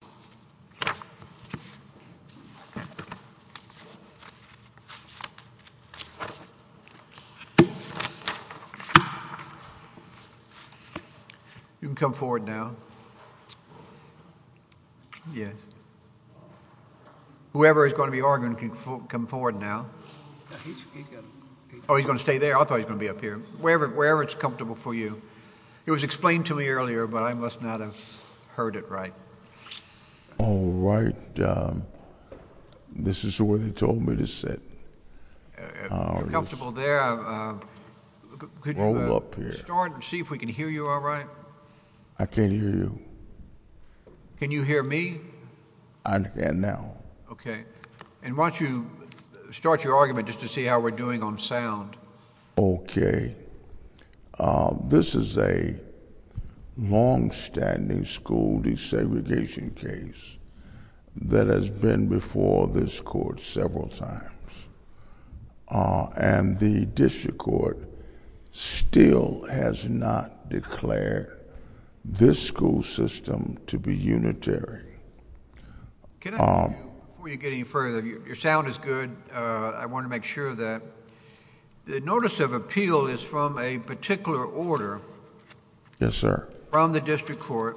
You can come forward now. Yes. Whoever is going to be arguing can come forward now. Oh, he's going to stay there? I thought he was going to be up here. Wherever it's comfortable for you. It was explained to me earlier but I must not have heard it all right. All right. This is where they told me to sit. If you're comfortable there, could you start and see if we can hear you all right? I can't hear you. Can you hear me? I can now. Okay. And why don't you start your argument just to see how we're doing on sound? Okay. This is a longstanding school desegregation case that has been before this court several times. And the district court still has not declared this school system to be unitary. Before you get any further, your sound is good. I want to make sure that... the notice of appeal is from a particular order... Yes, sir... from the district court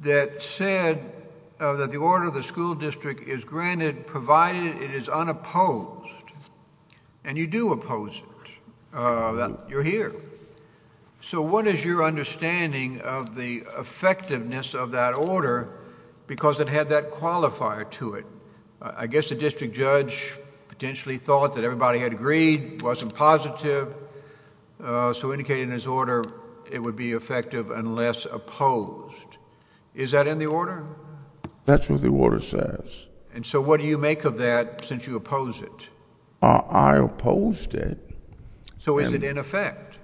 that said that the order of the school district is granted provided it is unopposed. And you do oppose it. You're here. So what is your understanding of the effectiveness of that order because it had that qualifier to it. I guess the district judge potentially thought that everybody had agreed, wasn't positive, so indicated in his order it would be effective unless opposed. Is that in the order? That's what the order says. And so what do you make of that since you oppose it? I opposed it. So is it in effect?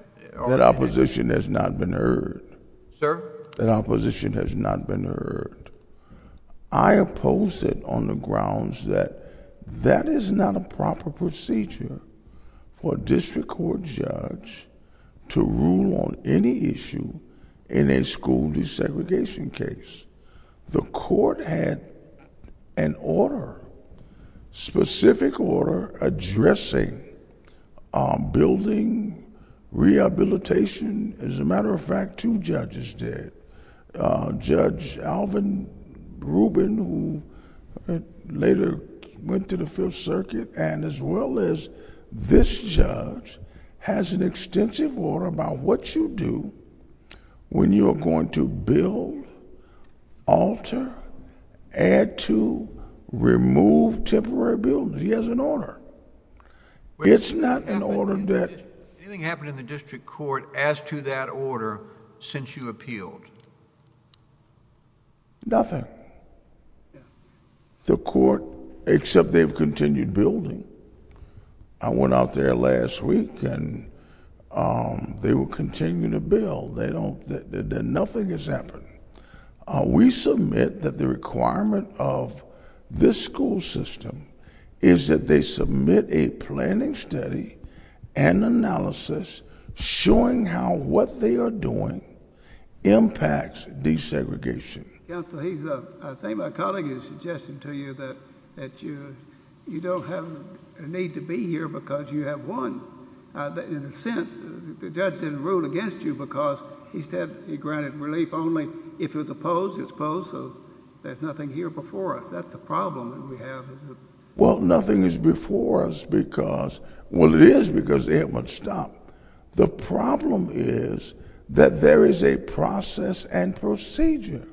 That opposition has not been heard. Sir? That opposition has not been heard. I opposed it on the grounds that that is not a proper procedure for a district court judge to rule on any issue in a school desegregation case. The court had an order, specific order, addressing building, rehabilitation. As a matter of fact, two judges did. Judge Alvin Rubin who later went to the Fifth Circuit and as well as this judge has an extensive order about what you do when you are going to build, alter, add to, remove temporary buildings. He has an order. It's not an order that... Since you appealed? Nothing. The court, except they've continued building. I went out there last week and they will continue to build. Nothing has happened. We submit that the requirement of this school system is that they submit a planning study and analysis showing how what they are doing impacts desegregation. Counsel, I think my colleague is suggesting to you that you don't have a need to be here because you have won. In a sense, the judge didn't rule against you because he said he granted relief only if it's opposed. It's opposed so there's nothing here before us. Is that the problem that we have? Nothing is before us because... Well, it is because they haven't stopped. The problem is that there is a process and procedure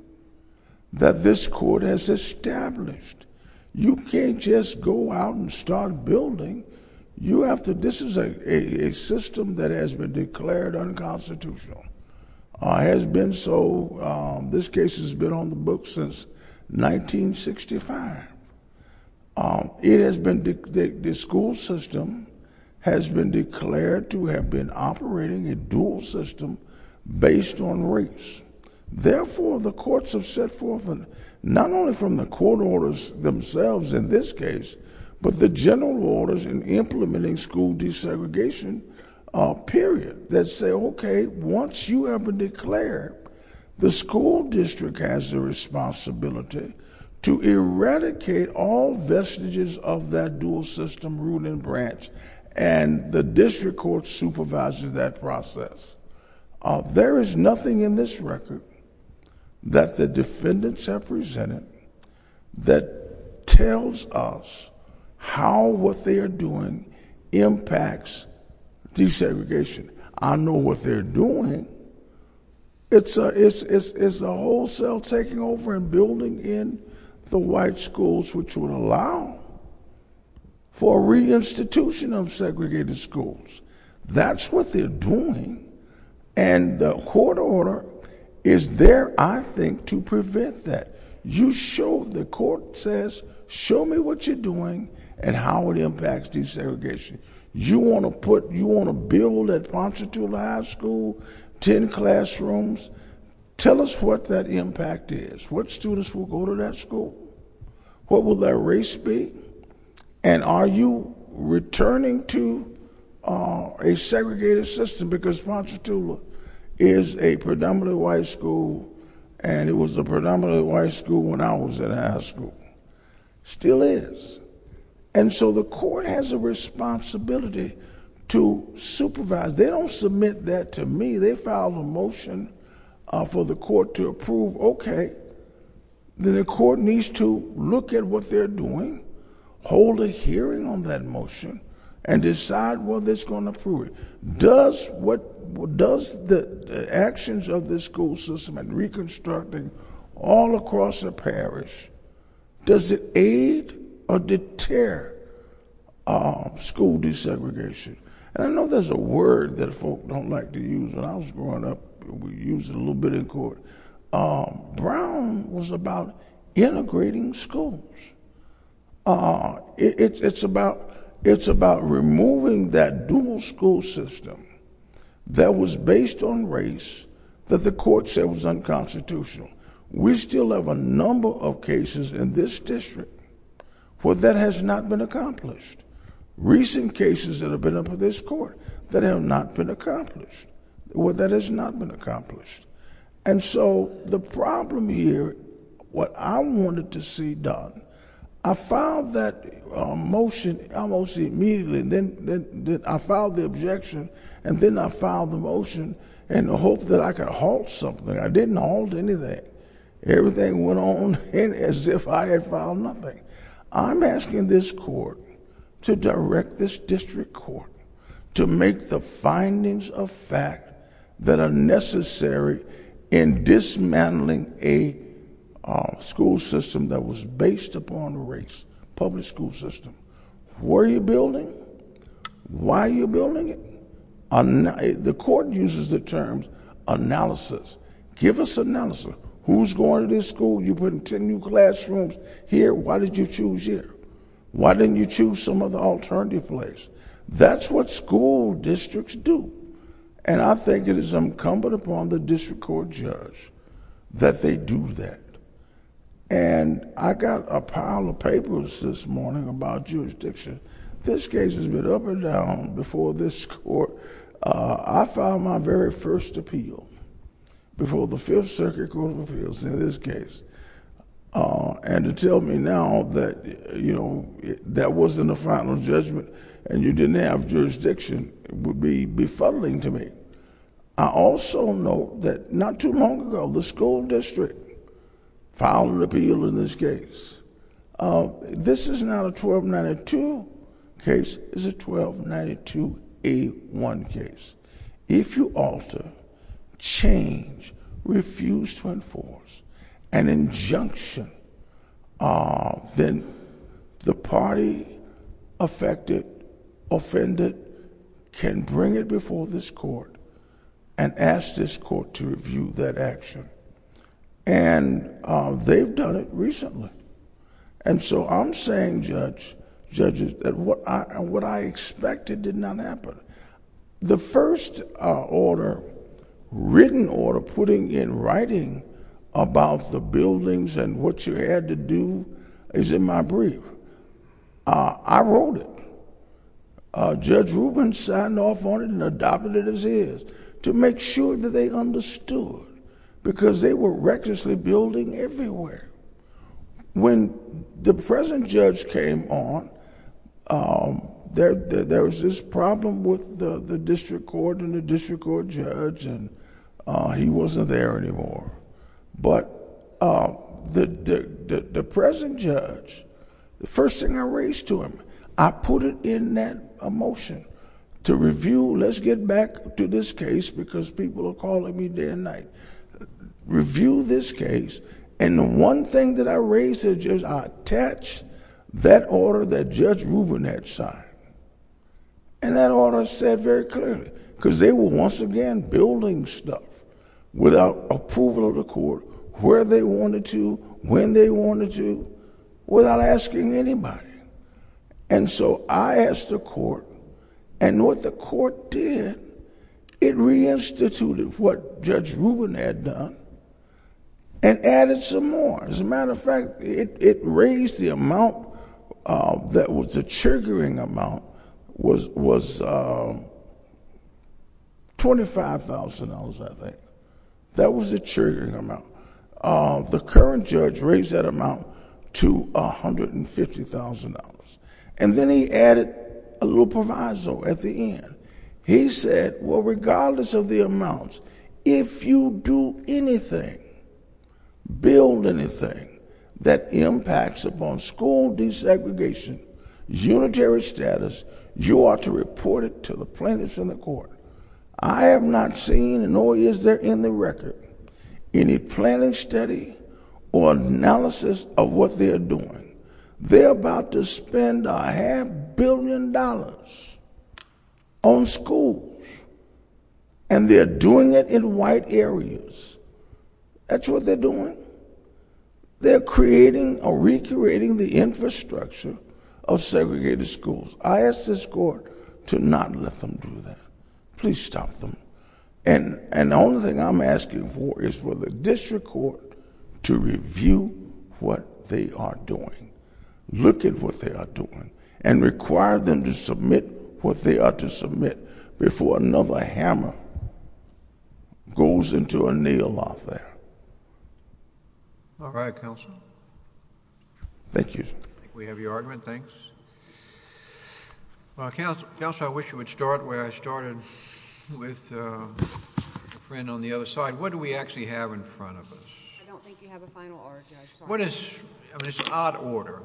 that this court has established. You can't just go out and start building. You have to... This is a system that has been declared unconstitutional. It has been so. This case has been on the 25th. The school system has been declared to have been operating a dual system based on race. Therefore, the courts have set forth, not only from the court orders themselves in this case, but the general orders in implementing school desegregation period that say, okay, once you have declared, the school district has the responsibility to eradicate all vestiges of that dual system ruling branch and the district court supervises that process. There is nothing in this record that the defendants have presented that tells us how what they are doing impacts desegregation. I know what they are doing. It's a wholesale taking over and building in the white schools which would allow for reinstitution of segregated schools. That's what they are doing. The court order is there, I think, to prevent that. The court says, show me what you are doing and how it impacts desegregation. You want to build that Pontchartula High School, ten classrooms. Tell us what that impact is. What students will go to that school? What will their race be? Are you returning to a segregated system because Pontchartula is a predominantly white school and it was a predominantly white school when I was in high school? It still is. The court has a responsibility to supervise. They don't submit that to me. They file a motion for the court to approve. The court needs to look at what they are doing, hold a hearing on that motion, and decide whether it's going to approve it. Does the actions of the school system and reconstructing all across the parish, does it aid or deter school desegregation? I know there's a word that folks don't like to use. When I was growing up, we used it a little bit in court. Brown was about integrating schools. It's about removing that dual school system that was in place. We have a number of cases in this district where that has not been accomplished. Recent cases that have been up in this court that have not been accomplished, where that has not been accomplished. The problem here, what I wanted to see done, I filed that motion almost immediately. I filed the objection, and then I filed the motion in the hope that I could halt something. I didn't halt anything. Everything went on as if I had filed nothing. I'm asking this court to direct this district court to make the findings of fact that are necessary in dismantling a school system that was based upon race, public school system. Where are you building? Why are you building it? The court uses the term analysis. Give us analysis. Who's going to this school? You put in ten new classrooms here. Why did you choose here? Why didn't you choose some other alternative place? That's what school districts do. I think it is incumbent upon the district court judge that they do that. I got a pile of papers this morning about jurisdiction. This case has been up and down before this court. I filed my very first appeal before the Fifth Circuit Court of Appeals in this case. To tell me now that that wasn't a final judgment and you didn't have jurisdiction would be befuddling to me. I also know that not too long ago, the school district filed an appeal in this case. This is not a 1292 case. It's a 1292A1 case. If you alter, change, refuse to enforce an injunction, then the party affected, offended, can bring it before this court and ask this court to review that action. They've done it recently. I'm saying, judges, that what I expected did not happen. The first written order putting in writing about the buildings and what you had to do is in my brief. I wrote it. Judge Rubin signed off on it and adopted it as is to make sure that they understood because they were recklessly building everywhere. When the present judge came on, there was this problem with the district court and the district court judge and he wasn't there anymore. The present judge, the first thing I raised to him, I put it in that motion to review. Let's get back to this case because people are calling me day and night. Review this case and the one thing that I raised to the judge, I attached that order that Judge Rubin had signed. That order said very clearly because they were once again building stuff without approval of the court, where they wanted to, when they asked the court and what the court did, it reinstituted what Judge Rubin had done and added some more. As a matter of fact, it raised the amount that was a triggering amount was $25,000, I think. That was a triggering amount. The current judge raised that amount to $150,000 and then he added a little proviso at the end. He said, well, regardless of the amounts, if you do anything, build anything, that impacts upon school desegregation, unitary status, you ought to report it to the plaintiffs and the court. I have not seen, nor is there in the record, any planning study or analysis of what they are doing. They are about to spend a half billion dollars on schools and they are doing it in white areas. That's what they are doing. They are creating or recreating the infrastructure of segregated schools. I ask this court to not let them do that. Please stop them. The only thing I'm asking for is for the district court to review what they are doing, look at what they are doing, and require them to submit what they are to submit before another hammer goes into a nail lock there. All right, counsel. Thank you. We have your argument, thanks. Well, counsel, I wish you would start where I started with a friend on the other side. What do we actually have in front of us? I don't think you have a final order, Judge. What is, I mean, it's an odd order.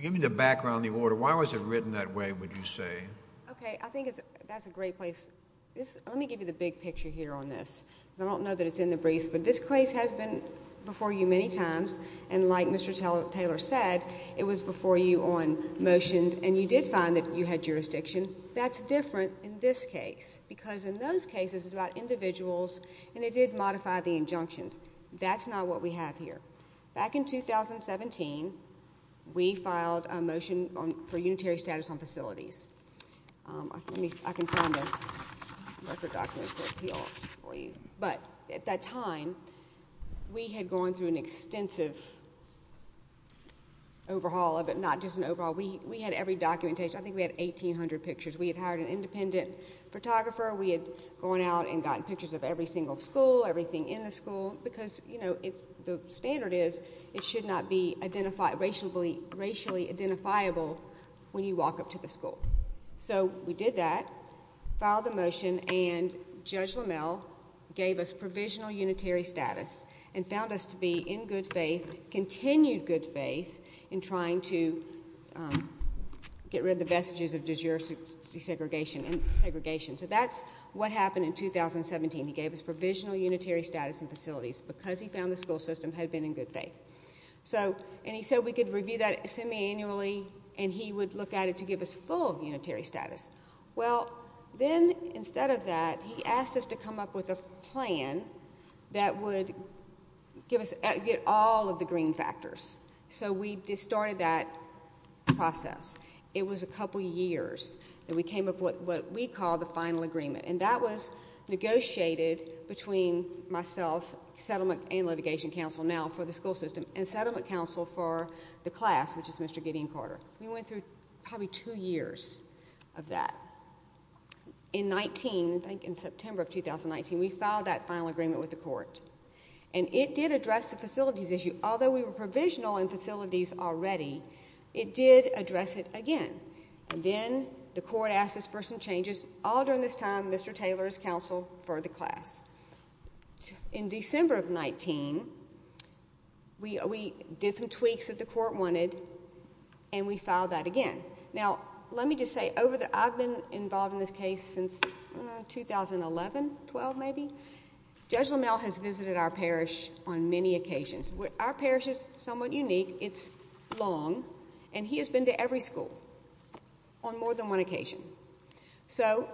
Give me the background on the order. Why was it written that way, would you say? Okay, I think that's a great place. Let me give you the big picture here on this. I don't know that it's in the briefs, but this case has been before you many times, and like Mr. Taylor said, it was before you on motions, and you did find that you had jurisdiction. That's different in this case, because in those cases, it's about individuals, and it did modify the injunctions. That's not what we have here. Back in 2017, we filed a motion for unitary status on facilities. I can find the record documents for you all, but the at that time, we had gone through an extensive overhaul of it, not just an overhaul. We had every documentation. I think we had 1,800 pictures. We had hired an independent photographer. We had gone out and gotten pictures of every single school, everything in the school, because the standard is it should not be racially identifiable when you walk up to the school. So we did that, filed the motion, and Judge LaMelle gave us provisional unitary status, and found us to be in good faith, continued good faith, in trying to get rid of the vestiges of desegregation. So that's what happened in 2017. He gave us provisional unitary status in facilities, because he found the school system had been in good faith. He said we could review that semiannually, and he would look at it to give us full unitary status. Well, then instead of that, he asked us to come up with a plan that would get all of the green factors. So we started that process. It was a couple years, and we came up with what we call the final agreement, and that was negotiated between myself, settlement and litigation counsel now for the school system, and settlement counsel for the class, which is Mr. Gideon Carter. We went through probably two years of that. In 19, I think in September of 2019, we filed that final agreement with the court, and it did address the facilities issue. Although we were provisional in facilities already, it did address it again. Then the court asked us for some changes. All during this time, Mr. Taylor's counsel for the class. In December of 19, we did some tweaks that the court wanted, and we filed that again. Now, let me just say, I've been involved in this case since 2011, 12 maybe. Judge LaMalle has visited our parish on many occasions. Our parish is somewhat unique. It's long, and he has been to every school on more than one occasion. So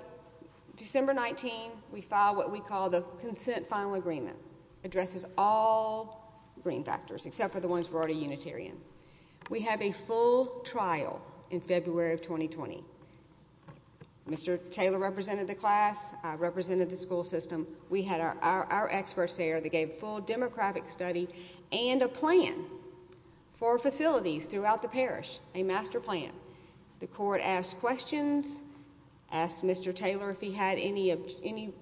December 19, we filed what we call the consent final agreement. Addresses all green factors, except for the ones we're already unitarian. We had a full trial in February of 2020. Mr. Taylor represented the class. I represented the school system. We had our experts there that gave full democratic study and a plan for facilities throughout the parish, a master plan. The court asked questions, asked Mr. Taylor if he had any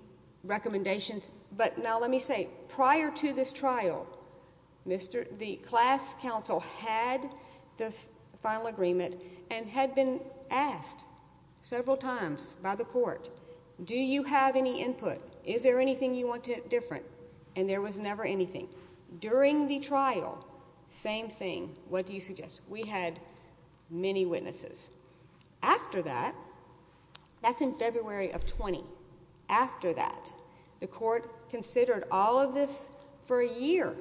recommendations. But now let me say, prior to this trial, the class counsel had this final agreement and had been asked several times by the court, do you have any input? Is there anything you want different? And there was never anything. During the trial, same thing. What do you suggest? We had many witnesses. After that, that's in February of 20. After that, the court considered all of this for a year.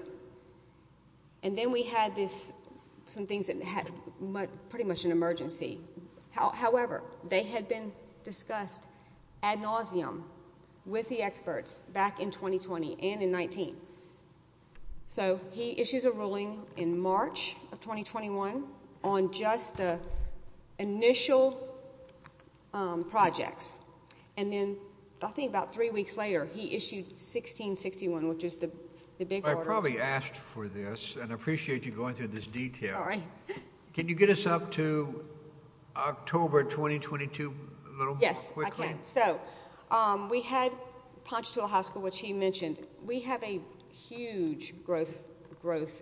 And then we had this, some things that had pretty much an emergency. However, they had been discussed ad nauseum with the experts back in 2020 and in 19. So he issues a ruling in March of 2021 on just the initial projects. And then I think about three weeks later, he issued 1661, which is the big order. I probably asked for this and appreciate you going through this detail. Can you get us up to October 2022? Yes. So we had Ponchatoula High School, which he mentioned. We have a huge growth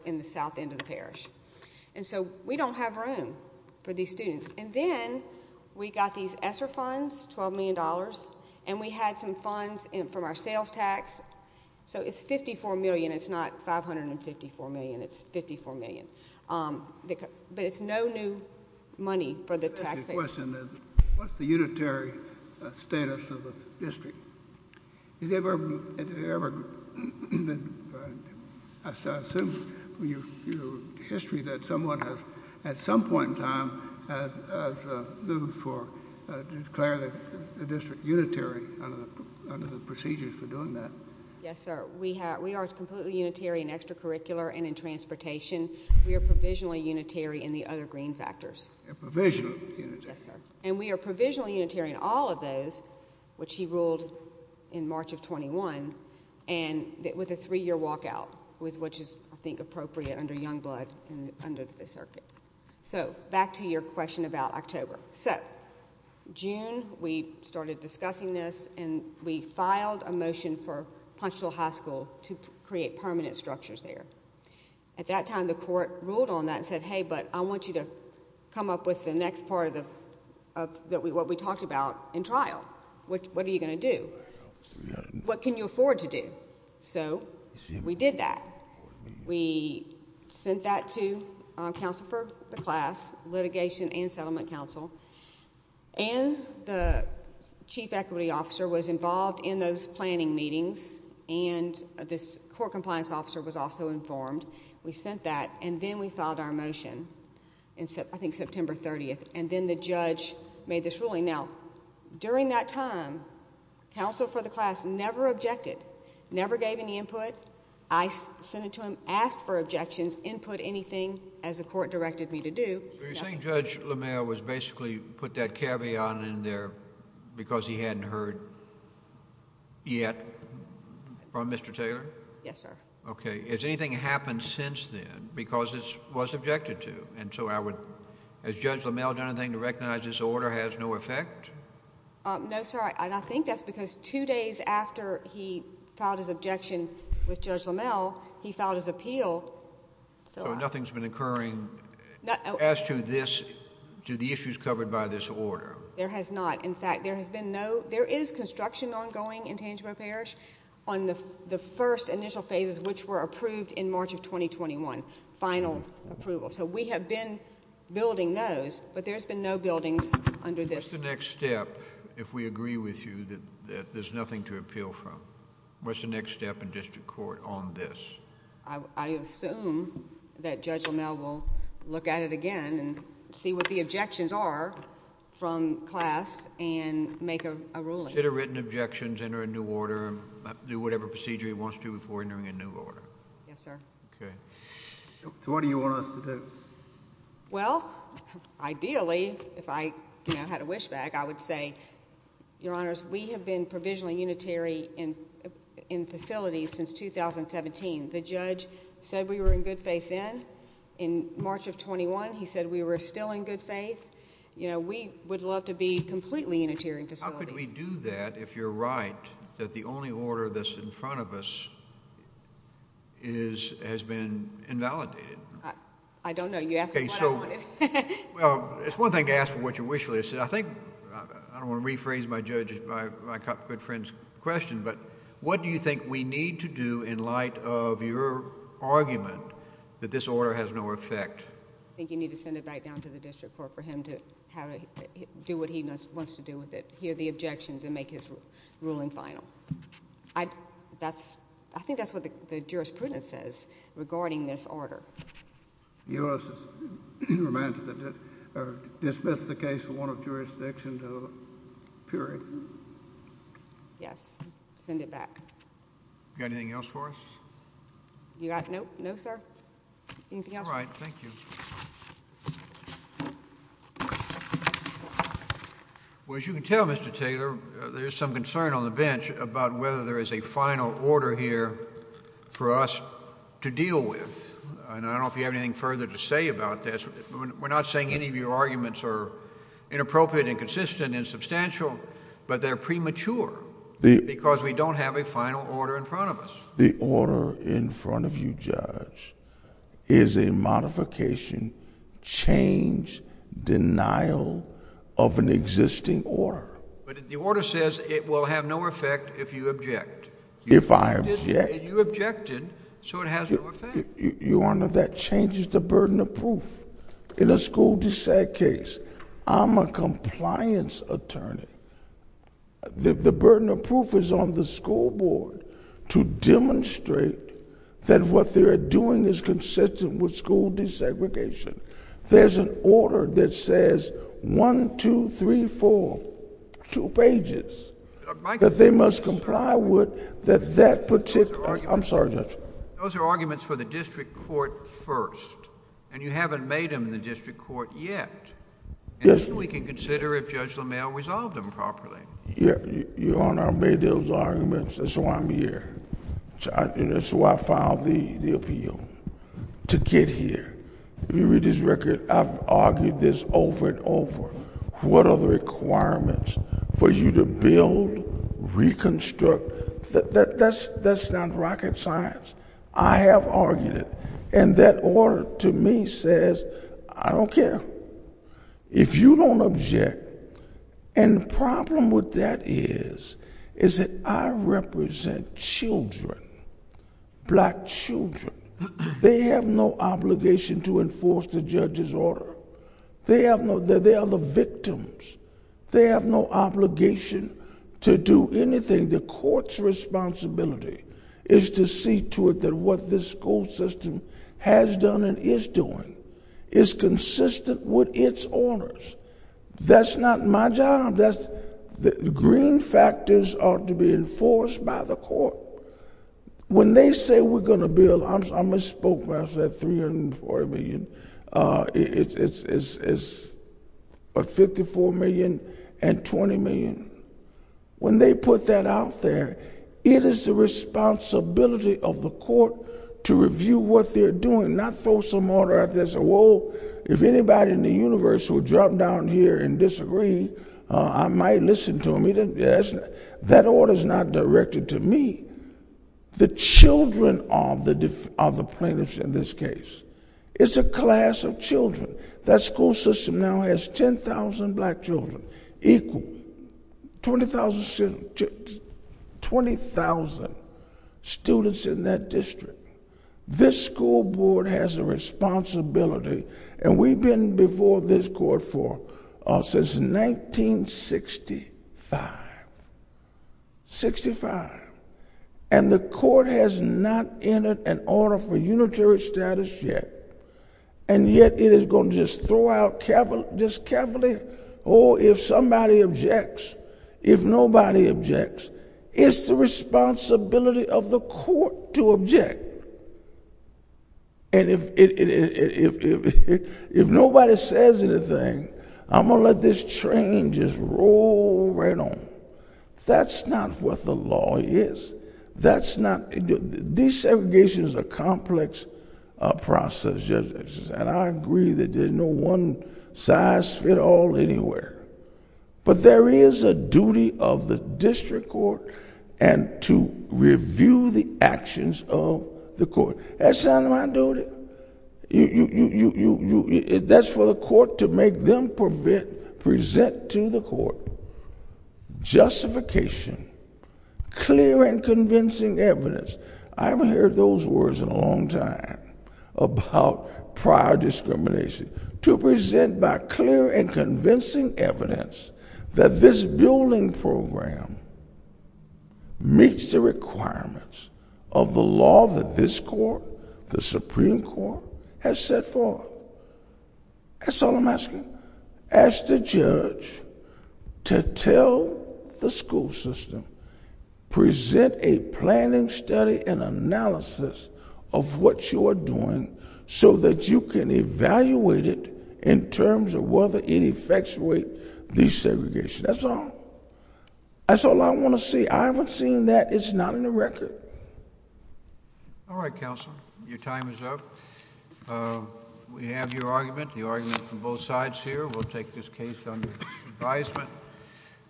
in the south end of the parish. And so we don't have room for these students. And then we got these ESSER funds, $12 million. And we had some funds from our sales tax. So it's $54 million. It's not $554 million. It's $54 million. But it's no new money for the taxpayers. My question is, what's the unitary status of the district? Has there ever been, I assume your history that someone has, at some point in time, has moved for declaring the district unitary under the procedures for doing that? Yes, sir. We are completely unitary in extracurricular and in transportation. We are provisionally unitary in the other green factors. You're provisionally unitary. Yes, sir. And we are provisionally unitary in all of those, which he ruled in March of 21, and with a three-year walkout, which is, I think, appropriate under Youngblood and under the circuit. So back to your question about October. So June, we started discussing this, and we filed a motion for Ponchatoula High School to create permanent structures there. At that time, the court ruled on that and said, hey, but I want you to come up with the next part of what we talked about in trial. What are you going to do? What can you afford to do? So we did that. We sent that to counsel for the class, litigation and settlement counsel, and the chief equity officer was involved in those planning meetings, and this court compliance officer was also informed. We sent that, and then we filed our motion in, I think, September 30, and then the judge made this ruling. Now, during that time, counsel for the class never objected, never gave any input. I sent it to him, asked for objections, input anything, as the court directed me to do. So you're saying Judge LeMayer was basically put that caveat in there because he hadn't heard yet from Mr. Taylor? Yes, sir. Okay. Has anything happened since then because it was objected to? And so I would... Has Judge LeMayer done anything to recognize this order has no effect? No, sir, and I think that's because two days after he filed his objection with Judge LeMayer, he filed his appeal, so... So nothing's been occurring as to this... to the issues covered by this order? There has not. In fact, there has been no... there is construction ongoing in Tangimo Parish on the first initial phases, which were approved in March of 2021, final approval. So we have been building those, but there's been no buildings under this. What's the next step, if we agree with you, that there's nothing to appeal from? What's the next step in district court on this? I assume that Judge LeMayer will look at it again and see what the objections are from class and make a ruling. Instead of written objections, enter a new order, do whatever procedure he wants to before entering a new order? Yes, sir. Okay. So what do you want us to do? Well, ideally, if I had a wish bag, I would say, Your Honors, we have been provisionally unitary in facilities since 2017. The judge said we were in good faith then. In March of 21, he said we were still in good faith. You know, we would love to be completely unitary in facilities. How could we do that if you're right that the only order that's in front of us has been invalidated? I don't know. You asked me what I wanted. Well, it's one thing to ask for what you wish for. I think... I don't want to rephrase my good friend's question, but what do you think we need to do in light of your argument that this order has no effect? I think you need to send it back down to the district court for him to do what he wants to do with it, hear the objections, and make his ruling final. I think that's what the jurisprudence says regarding this order. The U.S. is remanded to dismiss the case from one of jurisdiction to a period. Yes. Send it back. You got anything else for us? You got... no, sir? Anything else? All right. Thank you. Well, as you can tell, Mr. Taylor, there is some concern on the bench about whether there is a final order here for us to deal with. I don't know if you have anything further to say about this. We're not saying any of your arguments are inappropriate and consistent and substantial, but they're premature because we don't have a final order in front of us. The order in front of you, Judge, is a modification, change, denial of an existing order. But the order says it will have no effect if you object. If I object? You objected, so it has no effect. Your Honor, that changes the burden of proof. In a school dissent case, I'm a compliance attorney. The burden of proof is on the school board to demonstrate that what they're doing is consistent with school desegregation. There's an order that says one, two, three, four, two pages that they must comply with that that particular... I'm sorry, Judge. Those are arguments for the district court first, and you haven't made them in the district court yet. Yes, Your Honor. Then we can consider if Judge LaMalle resolved them properly. Your Honor, I made those arguments. That's why I'm here. That's why I filed the appeal, to get here. You read this record. I've argued this over and over. What are the requirements for you to build, reconstruct? That's not rocket science. I have argued it, and that record, to me, says, I don't care. If you don't object... The problem with that is, is that I represent children, black children. They have no obligation to enforce the judge's order. They are the victims. They have no obligation to do anything. The court's responsibility is to see to it that what this school system has done and is doing is consistent with its orders. That's not my job. The green factors ought to be enforced by the court. When they say we're going to build... I misspoke when I said $304 million. It's $54 million and $20 million. When they put that out there, it is the responsibility of the court to review what they're doing, not throw some order out there and say, whoa, if anybody in the universe would drop down here and disagree, I might listen to them. That order's not directed to me. The children are the plaintiffs in this case. It's a class of children. That school system now has 10,000 black children equal 20,000 students in that district. This school board has a responsibility, and we've been before this court since 1965, and the court has not entered an order for unitary status yet, and yet it is going to just throw out... just carefully, oh, if somebody objects, if nobody objects, it's the responsibility of the court to object. If nobody says anything, I'm going to let this train just roll right on. That's not what the law is. These segregations are a complex process, and I agree that there's no one-size-fits-all anywhere, but there is a duty of the district court to review the actions of the court. That's not my duty. That's for the court to make them present to the court justification, clear and convincing evidence. I haven't heard those words in a long time about prior discrimination, to present by clear and convincing evidence that this building program meets the requirements of the law that this court, the Supreme Court, has set forth. That's all I'm asking. Ask the judge to tell the school system, present a planning study and analysis of what you are doing so that you can evaluate it in terms of whether it effectuates the segregation. That's all. That's all I want to see. I haven't seen that. It's not in the record. All right, Counselor. Your time is up. We have your argument, the argument from both sides here. We'll take this case under advisement.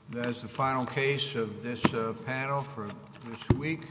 That is the final case of this panel for this week.